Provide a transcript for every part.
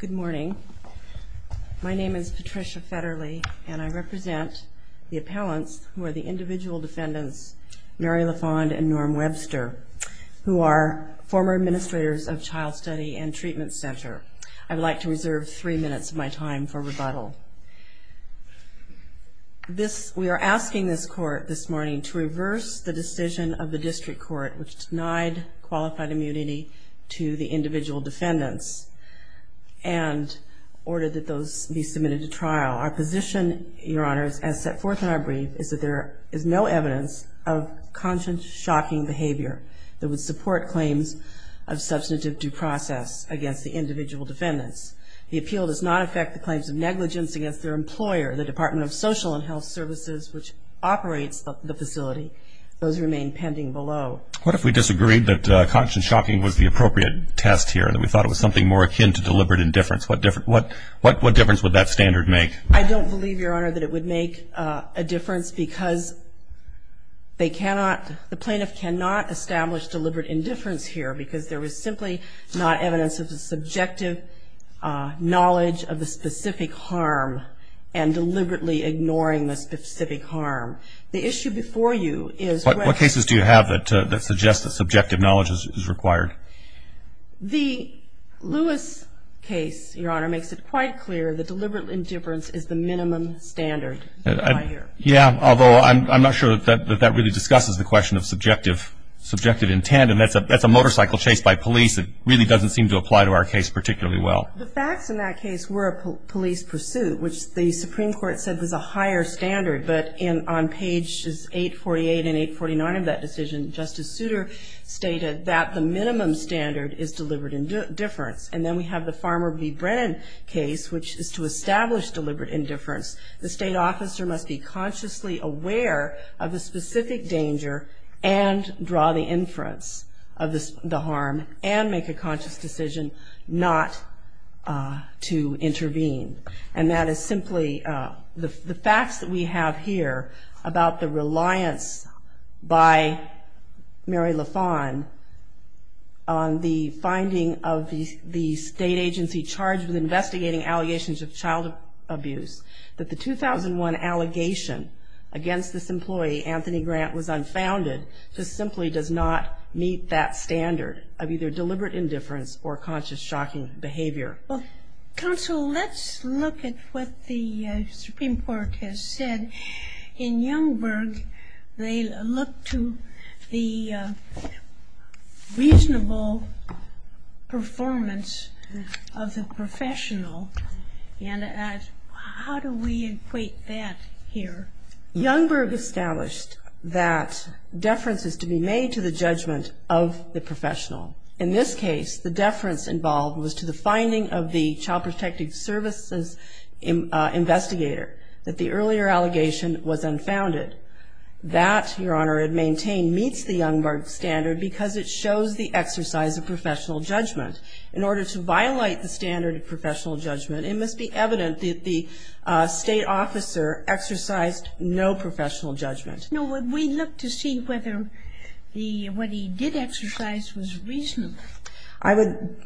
Good morning. My name is Patricia Federle and I represent the appellants who are the individual defendants Mary LaFond and Norm Webster who are former administrators of Child Study and Treatment Center. I would like to reserve three minutes of my time for rebuttal. We are asking this court this morning to reverse the decision of the district court which denied qualified immunity to the individual defendants and order that those be submitted to trial. Our position, your honors, as set forth in our brief is that there is no evidence of conscience-shocking behavior that would support claims of substantive due process against the individual defendants. The appeal does not affect the claims of negligence against their employer, the Department of Social and Health Services which operates the facility. Those remain pending below. What if we disagreed that conscience-shocking was the appropriate test here and we thought it was something more akin to deliberate indifference? What difference would that standard make? I don't believe, your honor, that it would make a difference because the plaintiff cannot establish deliberate indifference here because there is simply not evidence of the subjective knowledge of the specific harm and deliberately ignoring the specific harm. The issue before you is what cases do you have that suggest that subjective knowledge is required? The Lewis case, your honor, makes it quite clear that deliberate indifference is the minimum standard. Yeah, although I'm not sure that that really discusses the question of subjective intent and that's a motorcycle chased by police. It really doesn't seem to apply to our case particularly well. The facts in that case were a police pursuit which the judge, on pages 848 and 849 of that decision, Justice Souter stated that the minimum standard is deliberate indifference. And then we have the Farmer v. Brennan case which is to establish deliberate indifference. The state officer must be consciously aware of the specific danger and draw the inference of the harm and make a conscious decision not to intervene. And that is about the reliance by Mary LaFawn on the finding of the state agency charged with investigating allegations of child abuse that the 2001 allegation against this employee, Anthony Grant, was unfounded because it simply does not meet that standard of either deliberate indifference or conscious shocking behavior. Counsel, let's look at what the Supreme Court has said. In Youngberg, they look to the reasonable performance of the professional. And how do we equate that here? Youngberg established that deference is to be made to the judgment of the professional. In this case, the deference involved was to the finding of the child protective services investigator that the state agency charged with investigating allegations of child abuse that the employee, Anthony Grant, was unfounded. That, Your Honor, it maintained, meets the Youngberg standard because it shows the exercise of professional judgment. In order to violate the standard of professional judgment, it must be evident that the state officer exercised no professional judgment. No, we look to see whether what he did exercise was reasonable. I would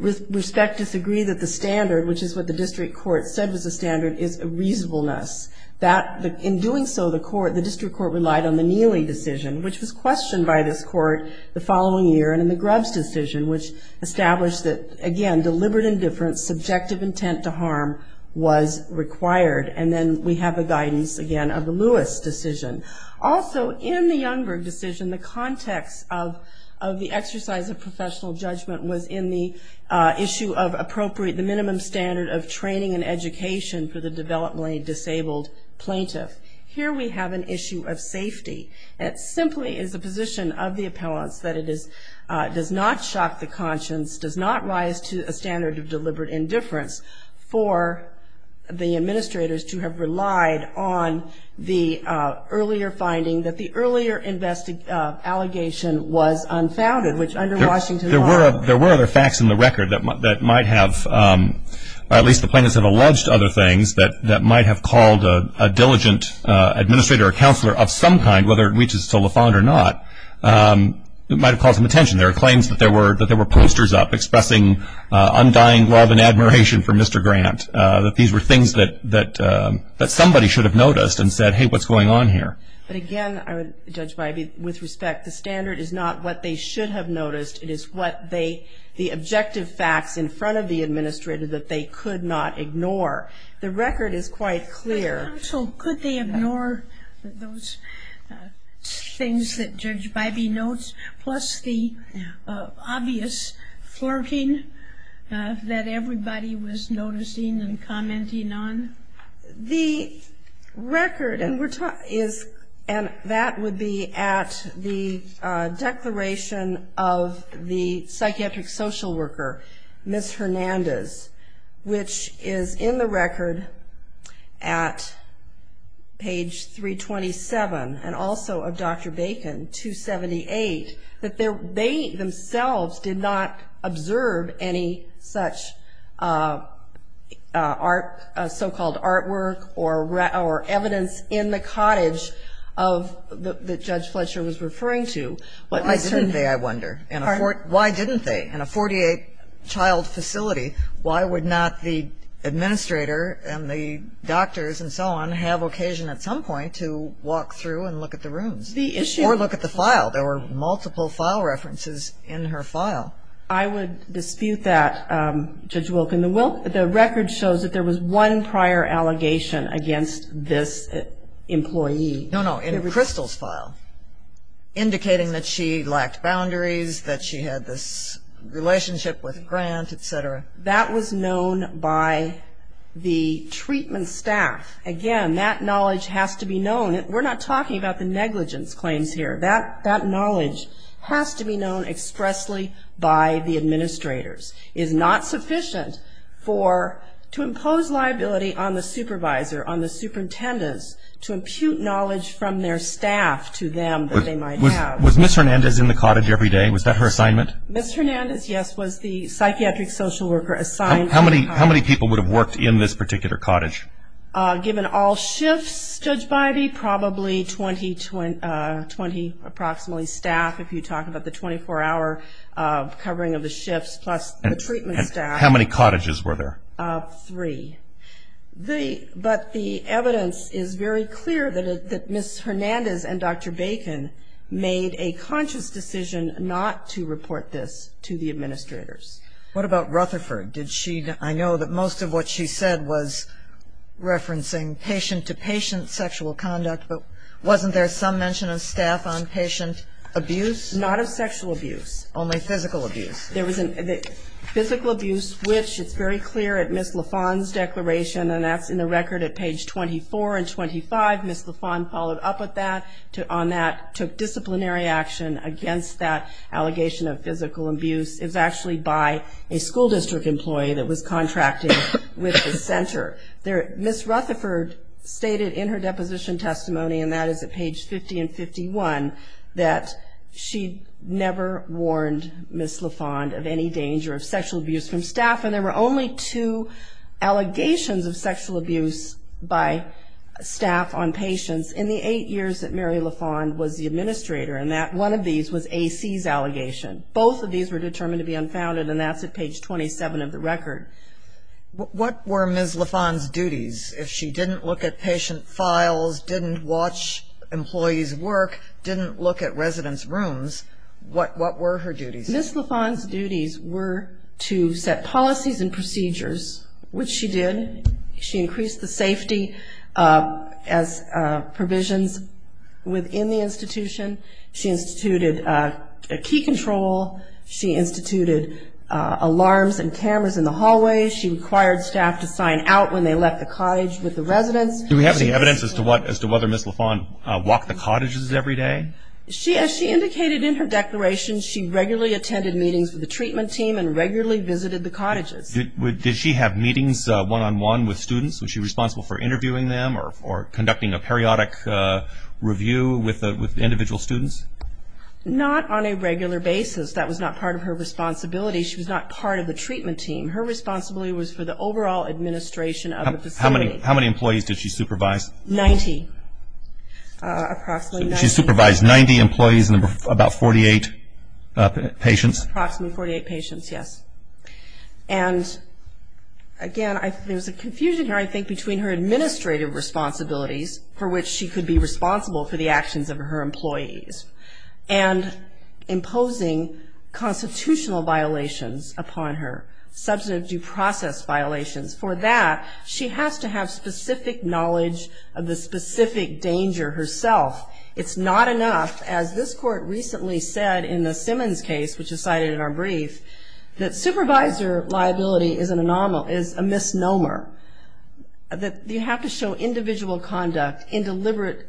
respect to disagree that the standard, which is what the district court said was the standard, is reasonableness. In doing so, the court, the district court relied on the Neely decision, which was questioned by this court the following year, and in the Grubbs decision, which established that, again, deliberate indifference, subjective intent to harm was required. And then we have a guidance, again, of the Lewis decision. Also, in the Youngberg decision, the context of the exercise of professional judgment was in the issue of appropriate, the minimum standard of training and education for the developmentally disabled plaintiff. Here we have an issue of safety. It simply is the position of the appellants that it does not shock the conscience, does not rise to a standard of deliberate indifference, for the administrators to have relied on the earlier finding that the earlier allegation was unfounded, which under Washington law. There were other facts in the record that might have, or at least the plaintiffs have alluded to other things, that might have called a diligent administrator or counselor of some kind, whether it reaches to Lafond or not, it might have caused some attention. There are claims that there were posters up expressing undying love and admiration for Mr. Grant, that these were things that somebody should have noticed and said, hey, what's going on here? But again, Judge Bybee, with respect, the standard is not what they should have noticed. It is what they, the objective facts in front of the administrator that they could not ignore. The record is quite clear. But counsel, could they ignore those things that Judge Bybee notes, plus the things that everybody was noticing and commenting on? The record, and that would be at the declaration of the psychiatric social worker, Ms. Hernandez, which is in the record at page 327, and also of Dr. Fletcher, that there may be such art, so-called artwork or evidence in the cottage that Judge Fletcher was referring to. Why didn't they, I wonder? Why didn't they? In a 48-child facility, why would not the administrator and the doctors and so on have occasion at some point to walk through and look at the rooms? Or look at the file. There were multiple file references in her file. I would dispute that, Judge Wilk. And the record shows that there was one prior allegation against this employee. No, no. In Crystal's file, indicating that she lacked boundaries, that she had this relationship with Grant, et cetera. That was known by the treatment staff. Again, that knowledge has to be known. We're not talking about the negligence claims here. That knowledge has to be known expressly by the administrators. It's not sufficient to impose liability on the supervisor, on the superintendents, to impute knowledge from their staff to them that they might have. Was Ms. Hernandez in the cottage every day? Was that her assignment? Ms. Hernandez, yes, was the psychiatric social worker assigned to the cottage. How many people would have worked in this particular cottage? Given all shifts, Judge Biby, probably 20 approximately staff, if you talk about the 24-hour covering of the shifts, plus the treatment staff. How many cottages were there? Three. But the evidence is very clear that Ms. Hernandez and Dr. Bacon made a conscious decision not to report this to the administrators. What about Rutherford? I know that most of what she said was referencing patient-to-patient sexual conduct, but wasn't there some mention of staff on patient abuse? Not of sexual abuse. Only physical abuse. There was physical abuse, which it's very clear at Ms. LaFawn's declaration, and that's in the record at page 24 and 25. Ms. LaFawn followed up on that, took disciplinary action against that school district employee that was contracting with the center. Ms. Rutherford stated in her deposition testimony, and that is at page 50 and 51, that she never warned Ms. LaFawn of any danger of sexual abuse from staff. And there were only two allegations of sexual abuse by staff on patients in the eight years that Mary LaFawn was the administrator. And that one of these was AC's allegation. Both of these were determined to be unfounded, and that's at page 27 of the record. What were Ms. LaFawn's duties? If she didn't look at patient files, didn't watch employees work, didn't look at residents' rooms, what were her duties? Ms. LaFawn's duties were to set policies and procedures, which she did. She increased the safety provisions within the institution. She instituted key control. She instituted alarms and cameras in the hallways. She required staff to sign out when they left the cottage with the residents. Do we have any evidence as to whether Ms. LaFawn walked the cottages every day? As she indicated in her declaration, she regularly attended meetings with the treatment team and regularly visited the cottages. Did she have meetings one-on-one with students? Was she responsible for interviewing them or conducting a periodic review with individual students? Not on a regular basis. That was not part of her responsibility. She was not part of the treatment team. Her responsibility was for the overall administration of the facility. How many employees did she supervise? Ninety. She supervised 90 employees and about 48 patients. Approximately 48 patients, yes. And again, there's a confusion here, I think, between her administrative responsibilities, for which she could be responsible for the actions of her employees, and imposing constitutional violations upon her, substantive due process violations. For that, she has to have specific knowledge of the specific danger herself. It's not enough, as this court recently said in the Simmons case, which is cited in our brief, that supervisor liability is a misnomer, that you have to show individual conduct, deliberate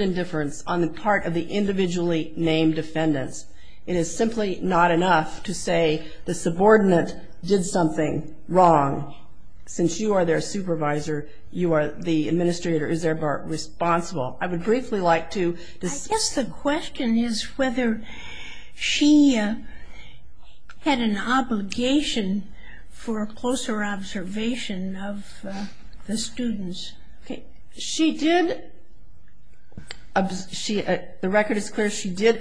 indifference on the part of the individually named defendants. It is simply not enough to say the subordinate did something wrong. Since you are their supervisor, you are the administrator, is therefore responsible. I would briefly like to... I guess the question is whether she had an obligation for a closer observation of the students. She did, the record is clear, she did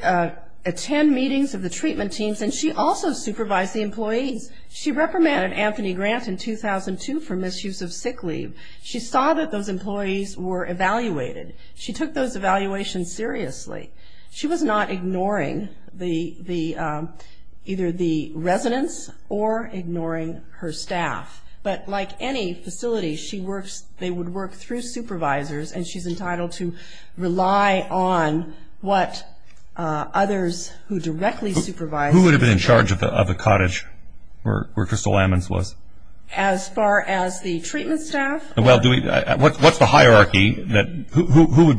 attend meetings of the treatment teams, and she also supervised the employees. She reprimanded Anthony Grant in 2002 for misuse of sick leave. She saw that those employees were evaluated. She took those evaluations seriously. She was not ignoring either the residents or ignoring her staff. But like any facility, she works, they would work through supervisors, and she's entitled to rely on what others who directly supervise... Who would have been in charge of the cottage where Crystal Ammons was? As far as the treatment staff? Well, do we, what's the hierarchy that, who would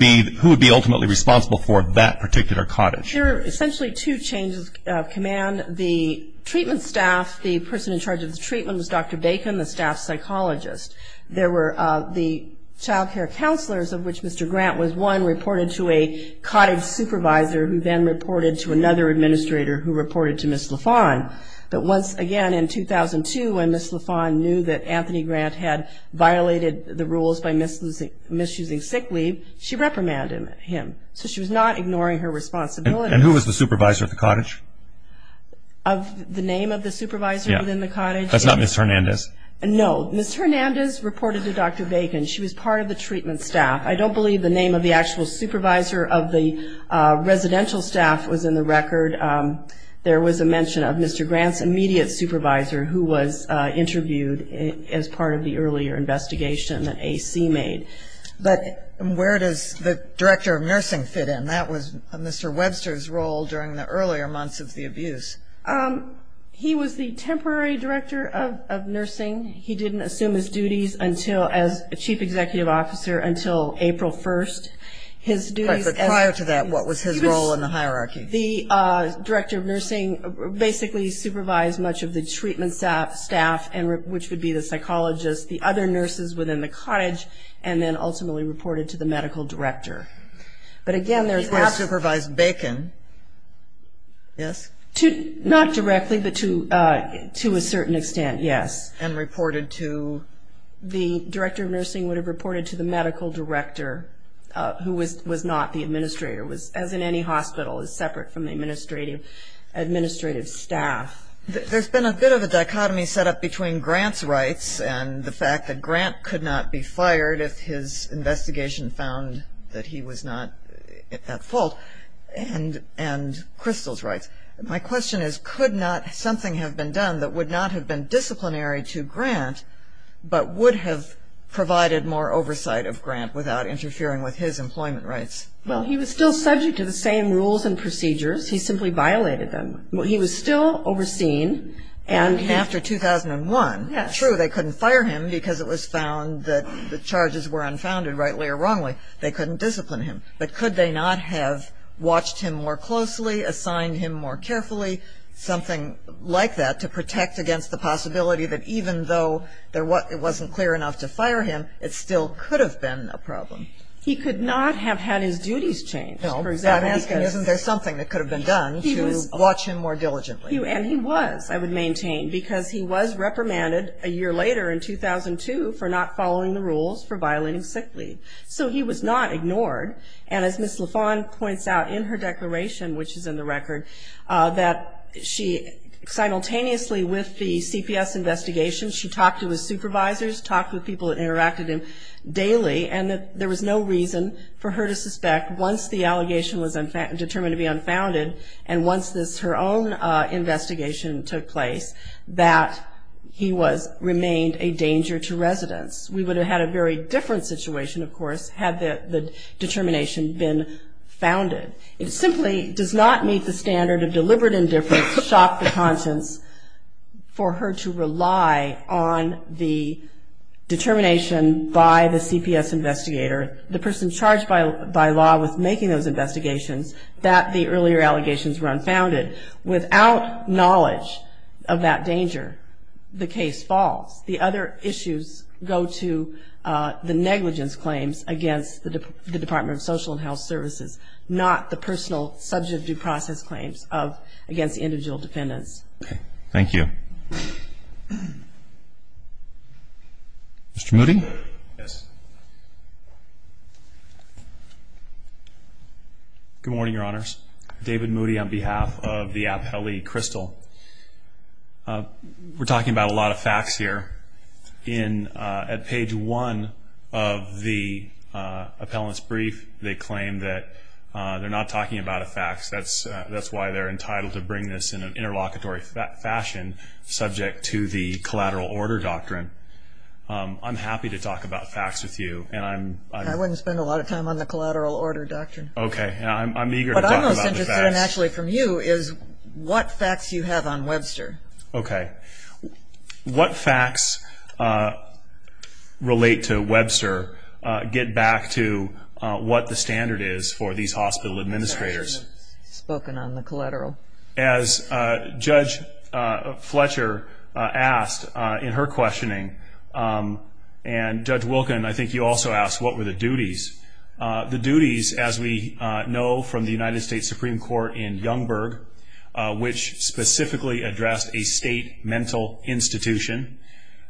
be ultimately responsible for that particular cottage? There are essentially two chains of command. The treatment staff, the person in charge of the treatment was Dr. Bacon, the staff psychologist. There were the child care counselors, of which Mr. Grant was one, reported to a cottage supervisor, who then reported to another administrator who reported to Ms. LaFawn. But once again, in 2002, when Ms. LaFawn knew that Anthony Grant had violated the rules by misusing sick leave, she reprimanded him. So she was not ignoring her responsibility. And who was the supervisor of the cottage? Of the name of the supervisor within the cottage? That's not Ms. Hernandez? No. Ms. Hernandez reported to Dr. Bacon. She was part of the treatment staff. I don't believe the name of the actual supervisor of the residential staff was in the record. There was a mention of Mr. Grant's immediate supervisor, who was interviewed as part of the earlier investigation that AC made. But where does the director of nursing fit in? And that was Mr. Webster's role during the earlier months of the abuse. He was the temporary director of nursing. He didn't assume his duties as chief executive officer until April 1st. Prior to that, what was his role in the hierarchy? The director of nursing basically supervised much of the treatment staff, which would be the psychologist, the other nurses within the cottage, and then ultimately reported to the medical director. But again, there's... He would have supervised Bacon, yes? Not directly, but to a certain extent, yes. And reported to... The director of nursing would have reported to the medical director, who was not the administrator, as in any hospital, is separate from the administrative staff. There's been a bit of a dichotomy set up between Grant's rights and the fact that Grant could not be fired if his investigation found that he was not at fault, and Crystal's rights. My question is, could not something have been done that would not have been disciplinary to Grant, but would have provided more oversight of Grant without interfering with his employment rights? Well, he was still subject to the same rules and procedures. He simply violated them. He was still overseen, and he... And after 2001, true, they couldn't fire him because it was found that the charges were unfounded, rightly or wrongly, they couldn't discipline him. But could they not have watched him more closely, assigned him more carefully, something like that, to protect against the possibility that even though it wasn't clear enough to fire him, it still could have been a problem? He could not have had his duties changed, for example, because... No, I'm asking, isn't there something that could have been done to watch him more diligently? And he was, I would maintain, because he was reprimanded a year later in 2002 for not following the rules for violating sick leave. So he was not ignored. And as Ms. LaFawn points out in her declaration, which is in the record, that she simultaneously with the CPS investigation, she talked to his supervisors, talked with people that interacted with him daily, and that there was no reason for her to suspect once the allegation was determined to be unfounded, and once her own investigation took place, that he remained a danger to residents. We would have had a very different situation, of course, had the determination been founded. It simply does not meet the standard of deliberate indifference to shock the conscience for her to rely on the determination by the CPS investigator, the person charged by law with making those investigations, that the earlier allegations were unfounded. Without knowledge of that danger, the case falls. The other issues go to the negligence claims against the Department of Social and Health Services, not the personal subject due process claims against the individual defendants. Thank you. Mr. Moody? Yes. Good morning, Your Honors. David Moody on behalf of the appellee, Crystal. We're talking about a lot of facts here. At page one of the appellant's brief, they claim that they're not talking about the facts. That's why they're entitled to bring this in an interlocutory fashion, subject to the collateral order doctrine. I'm happy to talk about facts with you. I wouldn't spend a lot of time on the collateral order doctrine. I'm eager to talk about the facts. What I'm most interested in actually from you is what facts you have on Webster. What facts relate to Webster get back to what the standard is for these hospital administrators? As Judge Fletcher asked in her questioning, and Judge Wilkin, I think you also asked, what were the duties? The duties, as we know from the United States Supreme Court in Youngberg, which specifically addressed a state mental institution,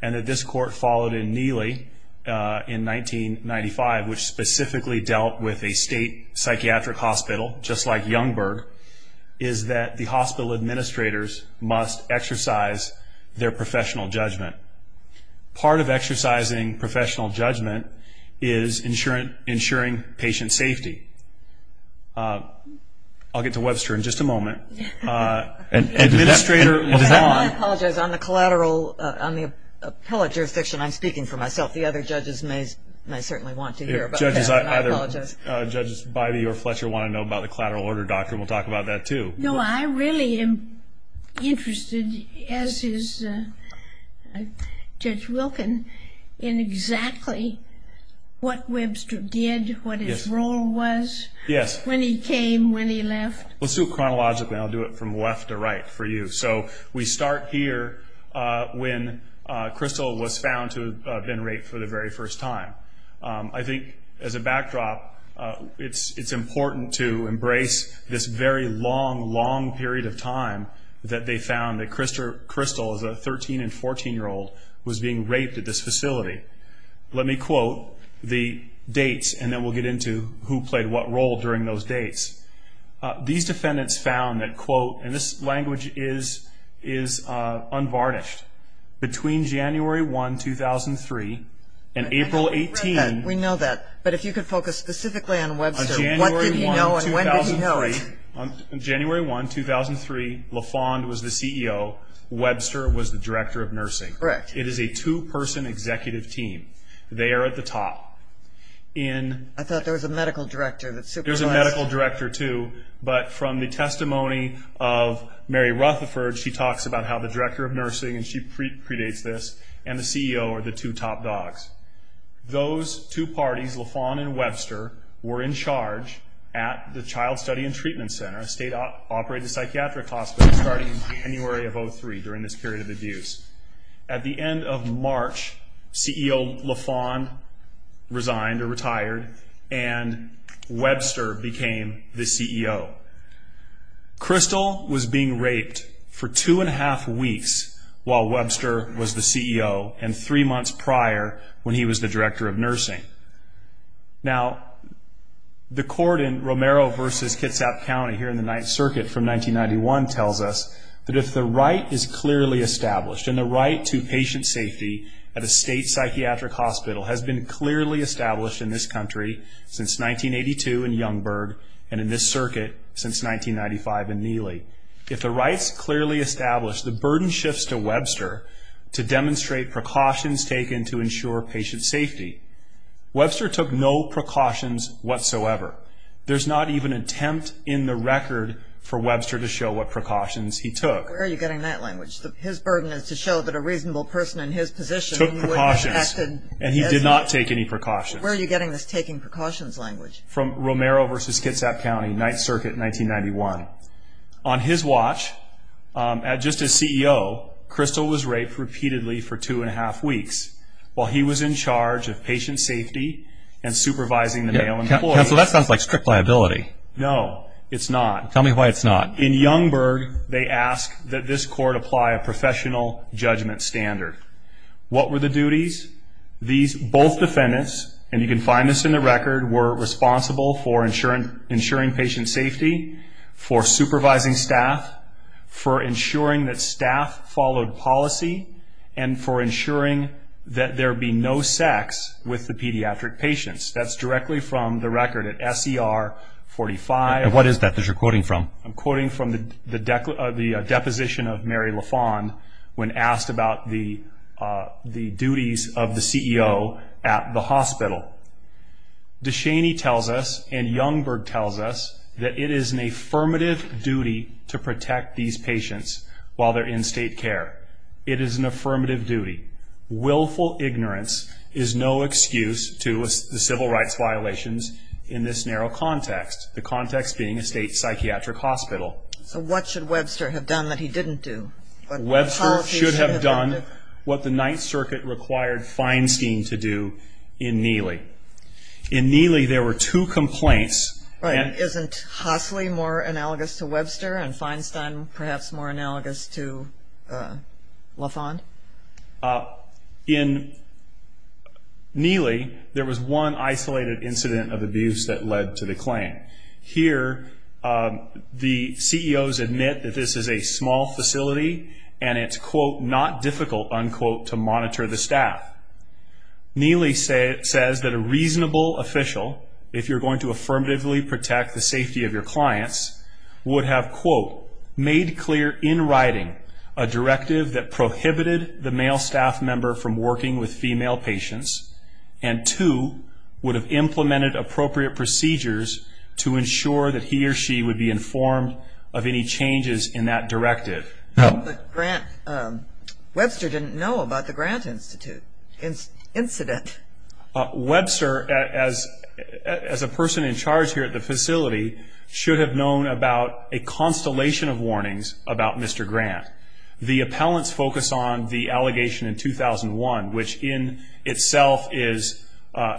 and that this court followed in Neely in 1995, which specifically dealt with a state psychiatric hospital, just like Youngberg, is that the hospital administrators must exercise their professional judgment. Part of exercising professional judgment is ensuring patient safety. I'll get to Webster in just a moment. I apologize. On the collateral, on the appellate jurisdiction, I'm speaking for myself. The other judges may certainly want to hear about that. I apologize. Judges Bybee or Fletcher want to know about the collateral order doctrine. We'll talk about that too. No, I really am interested, as is Judge Wilkin, in exactly what Webster did, what his role was, when he came, when he left. Let's do it chronologically. I'll do it from left to right for you. We start here when Crystal was found to have been raped for the very first time. I think, as a backdrop, it's important to embrace this very long, long period of time that they found that Crystal, as a 13 and 14-year-old, was being raped at this facility. Let me quote the dates, and then we'll get into who played what role during those dates. These defendants found that, and this language is unvarnished, between January 1, 2003, and April 18. We know that. But if you could focus specifically on Webster, what did he know, and when did he know it? On January 1, 2003, LaFond was the CEO. Webster was the director of nursing. Correct. It is a two-person executive team. They are at the top. I thought there was a medical director. There's a medical director too, but from the testimony of Mary Rutherford, she talks about how the director of nursing, and she predates this, and the CEO are the two top dogs. Those two parties, LaFond and Webster, were in charge at the Child Study and Treatment Center, a state-operated psychiatric hospital, starting in January of 2003, during this period of abuse. At the end of March, CEO LaFond resigned or retired, and Webster became the CEO. Crystal was being raped for two and a half weeks while Webster was the CEO, and three months prior, when he was the director of nursing. Now, the court in Romero v. Kitsap County here in the Ninth Circuit from 1991 tells us that if the right is clearly established, and the right to patient safety at a state psychiatric hospital has been clearly established in this country since 1982 in Youngberg, and in this circuit since 1995 in Neely, if the right's clearly established, the burden shifts to Webster to demonstrate precautions taken to ensure patient safety. Webster took no precautions whatsoever. There's not even an attempt in the record for Webster to show what precautions he took. Where are you getting that language? His burden is to show that a reasonable person in his position took precautions, and he did not take any precautions. Where are you getting this taking precautions language? From Romero v. Kitsap County, Ninth Circuit, 1991. On his watch, just as CEO, Crystal was raped repeatedly for two and a half weeks while he was in charge of patient safety and supervising the male employees. Counsel, that sounds like strict liability. No, it's not. Tell me why it's not. In Youngberg, they ask that this court apply a professional judgment standard. What were the duties? Both defendants, and you can find this in the record, were responsible for ensuring patient safety, for supervising staff, for ensuring that staff followed policy, and for ensuring that there be no sex with the pediatric patients. That's directly from the record at S.E.R. 45. And what is that that you're quoting from? I'm quoting from the deposition of Mary LaFond when asked about the duties of the CEO at the hospital. DeShaney tells us, and Youngberg tells us, that it is an affirmative duty to protect these patients while they're in state care. It is an affirmative duty. Willful ignorance is no excuse to the civil rights violations in this narrow context, the context being a state psychiatric hospital. So what should Webster have done that he didn't do? Webster should have done what the Ninth Circuit required Feinstein to do in Neely. In Neely, there were two complaints. Right. Isn't Hosley more analogous to Webster and Feinstein perhaps more analogous to LaFond? In Neely, there was one isolated incident of abuse that led to the claim. Here, the CEOs admit that this is a small facility and it's, quote, not difficult, unquote, to monitor the staff. Neely says that a reasonable official, if you're going to affirmatively protect the safety of your clients, would have, quote, made clear in writing a directive that prohibited the male staff member from working with female patients and, two, would have implemented appropriate procedures to ensure that he or she would be informed of any changes in that directive. But Webster didn't know about the Grant Institute incident. Webster, as a person in charge here at the facility, should have known about a constellation of warnings about Mr. Grant. The appellants focus on the allegation in 2001, which in itself is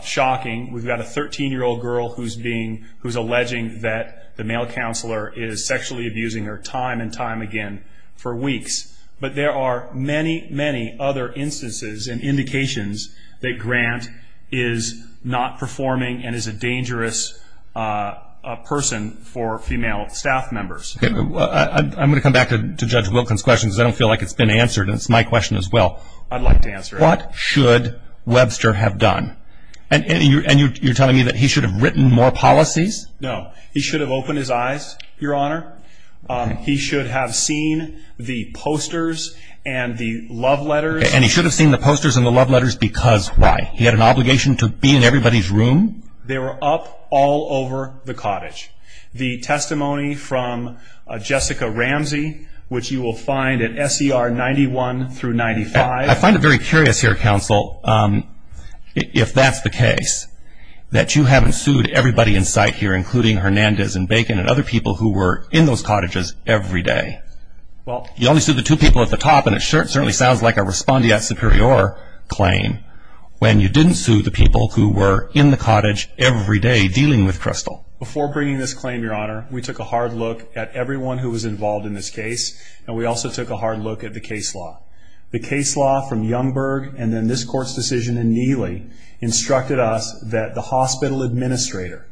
shocking. We've got a 13-year-old girl who's alleging that the male counselor is sexually abusing her time and time again for weeks. But there are many, many other instances and indications that Grant is not performing and is a dangerous person for female staff members. I'm going to come back to Judge Wilkins' question because I don't feel like it's been answered, and it's my question as well. I'd like to answer it. What should Webster have done? And you're telling me that he should have written more policies? No. He should have opened his eyes, Your Honor. He should have seen the posters and the love letters. And he should have seen the posters and the love letters because why? He had an obligation to be in everybody's room? They were up all over the cottage. The testimony from Jessica Ramsey, which you will find at SER 91 through 95. I find it very curious here, Counsel, if that's the case, that you haven't sued everybody in sight here, including Hernandez and Bacon and other people who were in those cottages every day. You only sued the two people at the top, and it certainly sounds like a respondeat superior claim, when you didn't sue the people who were in the cottage every day dealing with Crystal. Before bringing this claim, Your Honor, we took a hard look at everyone who was involved in this case, and we also took a hard look at the case law. The case law from Youngberg and then this Court's decision in Neely instructed us that the hospital administrator,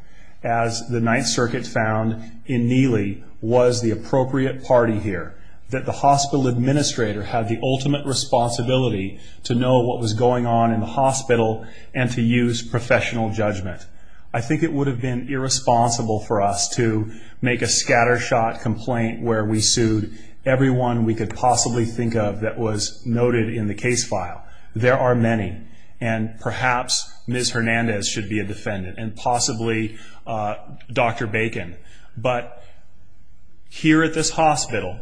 as the Ninth Circuit found in Neely, was the appropriate party here, that the hospital administrator had the ultimate responsibility to know what was going on in the hospital and to use professional judgment. I think it would have been irresponsible for us to make a scattershot complaint where we sued everyone we could possibly think of that was noted in the case file. There are many, and perhaps Ms. Hernandez should be a defendant, and possibly Dr. Bacon. But here at this hospital,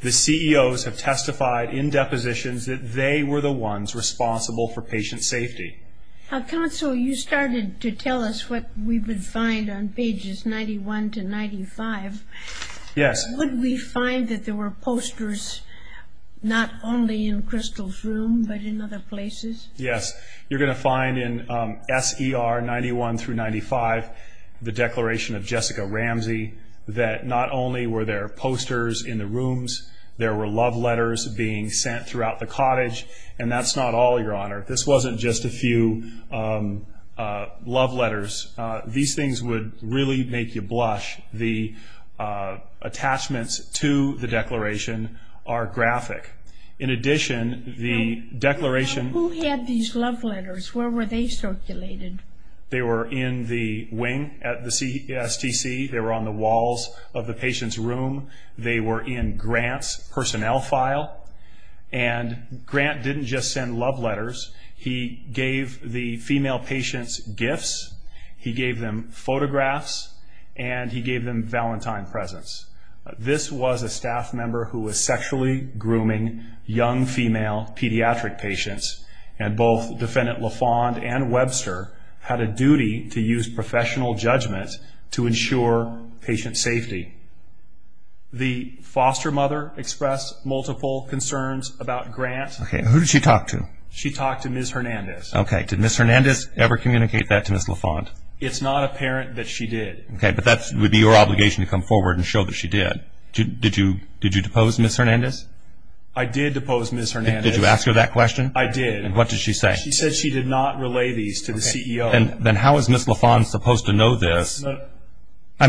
the CEOs have testified in depositions that they were the ones responsible for patient safety. Counsel, you started to tell us what we would find on pages 91 to 95. Yes. Would we find that there were posters not only in Crystal's room but in other places? Yes. You're going to find in S.E.R. 91 through 95 the declaration of Jessica Ramsey that not only were there posters in the rooms, there were love letters being sent throughout the cottage, and that's not all, Your Honor. This wasn't just a few love letters. These things would really make you blush. The attachments to the declaration are graphic. In addition, the declaration... Who had these love letters? Where were they circulated? They were in the wing at the CSTC. They were on the walls of the patient's room. They were in Grant's personnel file. And Grant didn't just send love letters. He gave the female patients gifts, he gave them photographs, and he gave them Valentine presents. This was a staff member who was sexually grooming young female pediatric patients, and both Defendant LaFond and Webster had a duty to use professional judgment to ensure patient safety. The foster mother expressed multiple concerns about Grant. Okay. Who did she talk to? She talked to Ms. Hernandez. Okay. Did Ms. Hernandez ever communicate that to Ms. LaFond? It's not apparent that she did. Okay, but that would be your obligation to come forward and show that she did. Did you depose Ms. Hernandez? I did depose Ms. Hernandez. Did you ask her that question? I did. And what did she say? She said she did not relay these to the CEO. Then how is Ms. LaFond supposed to know this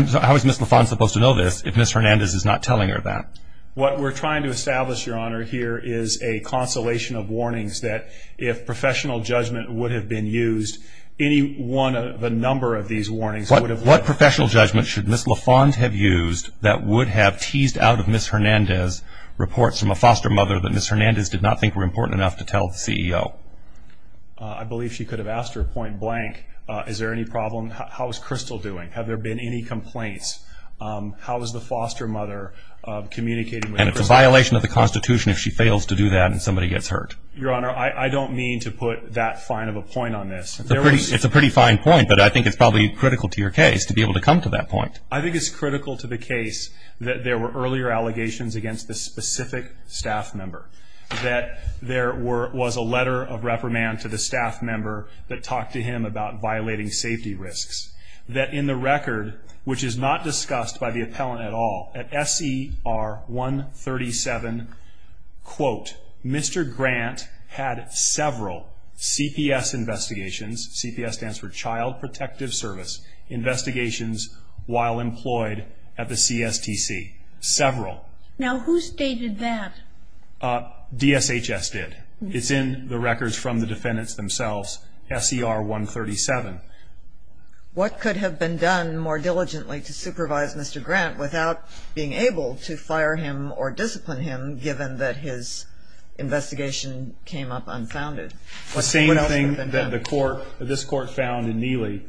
if Ms. Hernandez is not telling her that? What we're trying to establish, Your Honor, here is a consolation of warnings that if professional judgment would have been used, any one of a number of these warnings would have... What professional judgment should Ms. LaFond have used that would have teased out of Ms. Hernandez reports from a foster mother that Ms. Hernandez did not think were important enough to tell the CEO? I believe she could have asked her point blank, is there any problem? How is Crystal doing? Have there been any complaints? How is the foster mother communicating with Crystal? And it's a violation of the Constitution if she fails to do that and somebody gets hurt. Your Honor, I don't mean to put that fine of a point on this. It's a pretty fine point, but I think it's probably critical to your case to be able to come to that point. I think it's critical to the case that there were earlier allegations against this specific staff member. That there was a letter of reprimand to the staff member that talked to him about violating safety risks. That in the record, which is not discussed by the appellant at all, at SER 137, quote, Mr. Grant had several CPS investigations, CPS stands for Child Protective Service, investigations while employed at the CSTC. Several. Now who stated that? DSHS did. It's in the records from the defendants themselves, SER 137. What could have been done more diligently to supervise Mr. Grant without being able to fire him or discipline him, given that his investigation came up unfounded? The same thing that this Court found in Neely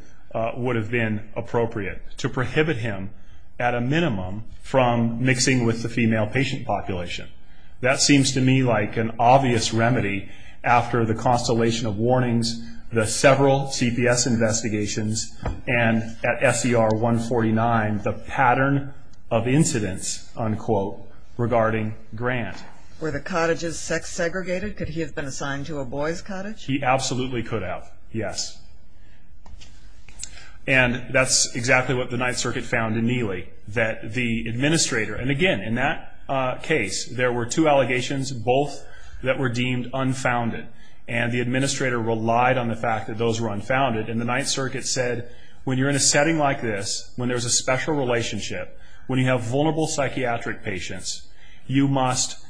would have been appropriate. To prohibit him, at a minimum, from mixing with the female patient population. That seems to me like an obvious remedy after the constellation of warnings, the several CPS investigations, and at SER 149, the pattern of incidents, unquote, regarding Grant. Were the cottages sex segregated? Could he have been assigned to a boy's cottage? And that's exactly what the Ninth Circuit found in Neely, that the administrator, and again, in that case, there were two allegations, both that were deemed unfounded, and the administrator relied on the fact that those were unfounded, and the Ninth Circuit said, when you're in a setting like this, when there's a special relationship, when you have vulnerable psychiatric patients, you must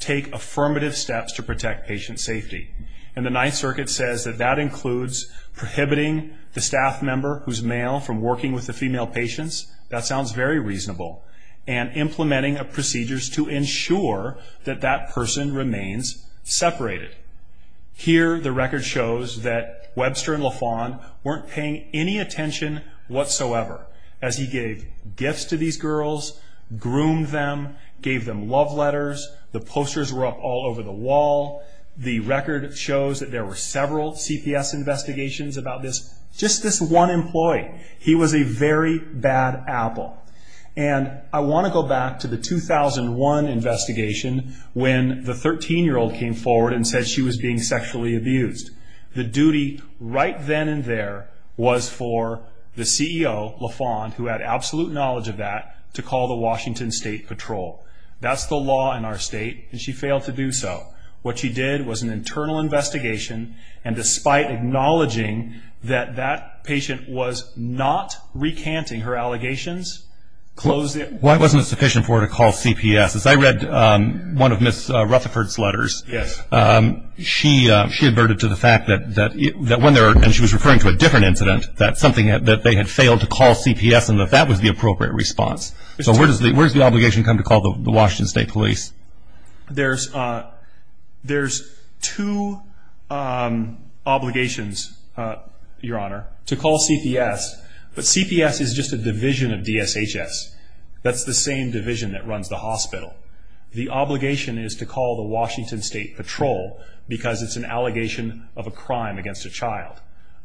take affirmative steps to protect patient safety. And the Ninth Circuit says that that includes prohibiting the staff member who's male from working with the female patients. That sounds very reasonable. And implementing procedures to ensure that that person remains separated. Here, the record shows that Webster and LaFawn weren't paying any attention whatsoever as he gave gifts to these girls, groomed them, gave them love letters, the posters were up all over the wall. The record shows that there were several CPS investigations about this, just this one employee. He was a very bad apple. And I want to go back to the 2001 investigation when the 13-year-old came forward and said she was being sexually abused. The duty right then and there was for the CEO, LaFawn, who had absolute knowledge of that, to call the Washington State Patrol. That's the law in our state, and she failed to do so. What she did was an internal investigation, and despite acknowledging that that patient was not recanting her allegations, closed it. Why wasn't it sufficient for her to call CPS? As I read one of Ms. Rutherford's letters, she adverted to the fact that when there were, and she was referring to a different incident, that they had failed to call CPS and that that was the appropriate response. So where does the obligation come to call the Washington State Police? There's two obligations, Your Honor, to call CPS, but CPS is just a division of DSHS. That's the same division that runs the hospital. The obligation is to call the Washington State Patrol because it's an allegation of a crime against a child.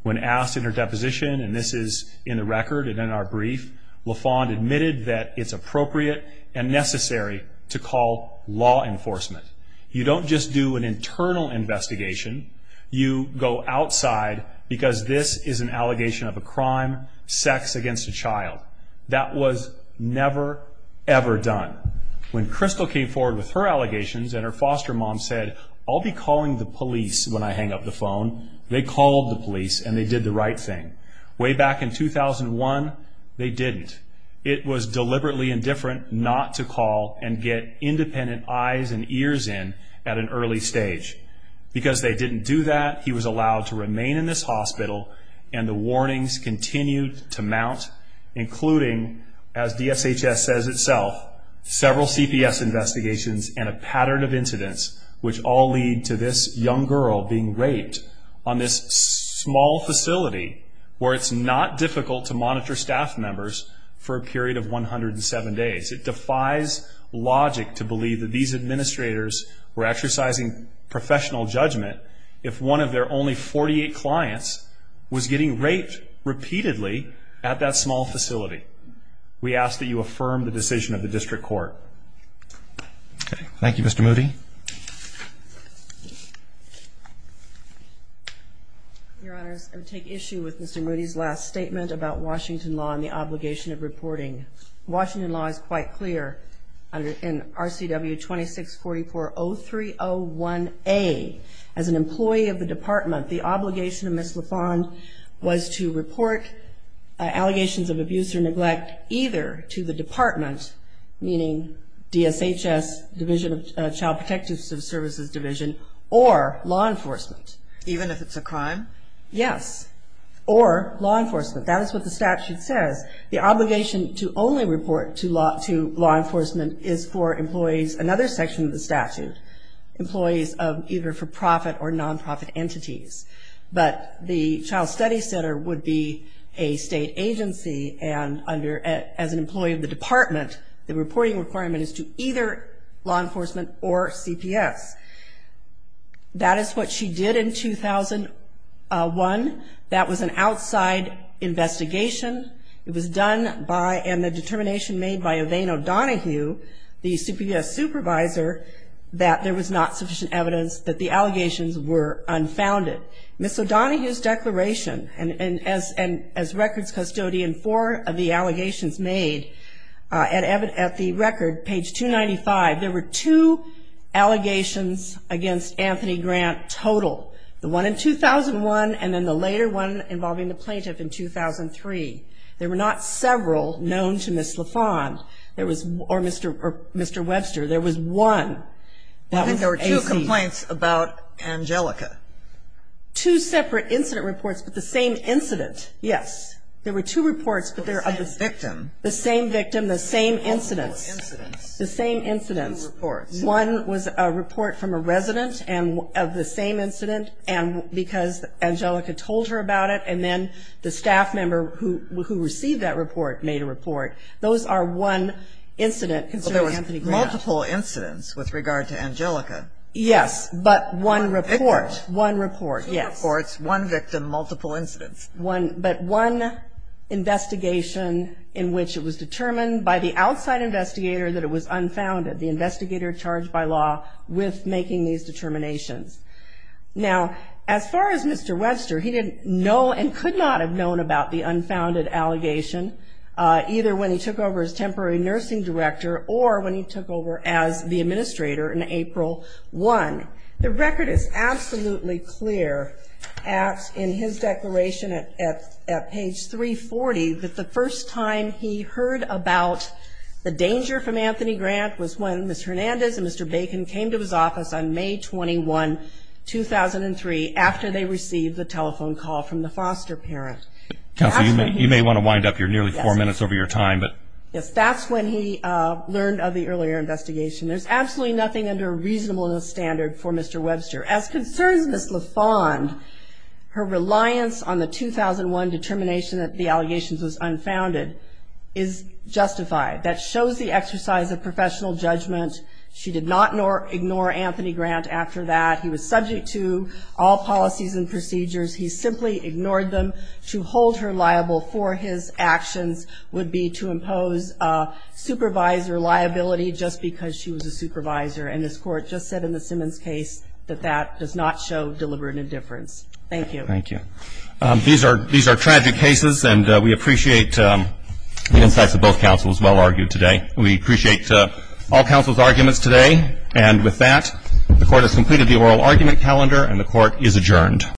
When asked in her deposition, and this is in the record and in our brief, LaFawn admitted that it's appropriate and necessary to call law enforcement. You don't just do an internal investigation. You go outside because this is an allegation of a crime, sex against a child. That was never, ever done. When Crystal came forward with her allegations and her foster mom said, I'll be calling the police when I hang up the phone, they called the police and they did the right thing. Way back in 2001, they didn't. It was deliberately indifferent not to call and get independent eyes and ears in at an early stage. Because they didn't do that, he was allowed to remain in this hospital and the warnings continued to mount, including, as DSHS says itself, several CPS investigations and a pattern of incidents, which all lead to this young girl being raped on this small facility where it's not difficult to monitor staff members for a period of 107 days. It defies logic to believe that these administrators were exercising professional judgment if one of their only 48 clients was getting raped repeatedly at that small facility. We ask that you affirm the decision of the district court. Thank you, Mr. Moody. Your Honors, I would take issue with Mr. Moody's last statement about Washington law and the obligation of reporting. Washington law is quite clear. In RCW 26440301A, as an employee of the department, the obligation of Ms. LaFond was to report allegations of abuse or neglect either to the department, meaning DSHS, Division of Child Protective Services Division, or law enforcement. Even if it's a crime? Yes, or law enforcement. That is what the statute says. The obligation to only report to law enforcement is for employees, another section of the statute, employees of either for-profit or non-profit entities. But the Child Studies Center would be a state agency and as an employee of the department, the reporting requirement is to either law enforcement or CPS. That is what she did in 2001. That was an outside investigation. It was done by and the determination made by Evane O'Donohue, the CPS supervisor, that there was not sufficient evidence that the allegations were unfounded. Ms. O'Donohue's declaration, and as records custodian, four of the allegations made at the record, page 295, there were two allegations against Anthony Grant total, the one in 2001 and then the later one involving the plaintiff in 2003. There were not several known to Ms. LaFond or Mr. Webster. There was one. I think there were two complaints about Angelica. Two separate incident reports, but the same incident, yes. There were two reports, but they're of the same victim, the same incidents. Multiple incidents. The same incidents. Two reports. One was a report from a resident of the same incident because Angelica told her about it, and then the staff member who received that report made a report. Those are one incident concerning Anthony Grant. Multiple incidents with regard to Angelica. Yes, but one report. One report, yes. Two reports, one victim, multiple incidents. But one investigation in which it was determined by the outside investigator that it was unfounded, the investigator charged by law with making these determinations. Now, as far as Mr. Webster, he didn't know and could not have known about the unfounded allegation, either when he took over as temporary nursing director or when he took over as the administrator in April 1. The record is absolutely clear in his declaration at page 340 that the first time he heard about the danger from Anthony Grant was when Mr. Hernandez and Mr. Bacon came to his office on May 21, 2003, after they received the telephone call from the foster parent. Counsel, you may want to wind up here, nearly four minutes over your time. Yes, that's when he learned of the earlier investigation. There's absolutely nothing under a reasonableness standard for Mr. Webster. As concerns Ms. LaFond, her reliance on the 2001 determination that the allegations was unfounded is justified. That shows the exercise of professional judgment. She did not ignore Anthony Grant after that. He was subject to all policies and procedures. He simply ignored them. To hold her liable for his actions would be to impose supervisor liability just because she was a supervisor, and this Court just said in the Simmons case that that does not show deliberate indifference. Thank you. Thank you. These are tragic cases, and we appreciate the insights of both counsels well argued today. We appreciate all counsel's arguments today. And with that, the Court has completed the oral argument calendar, and the Court is adjourned.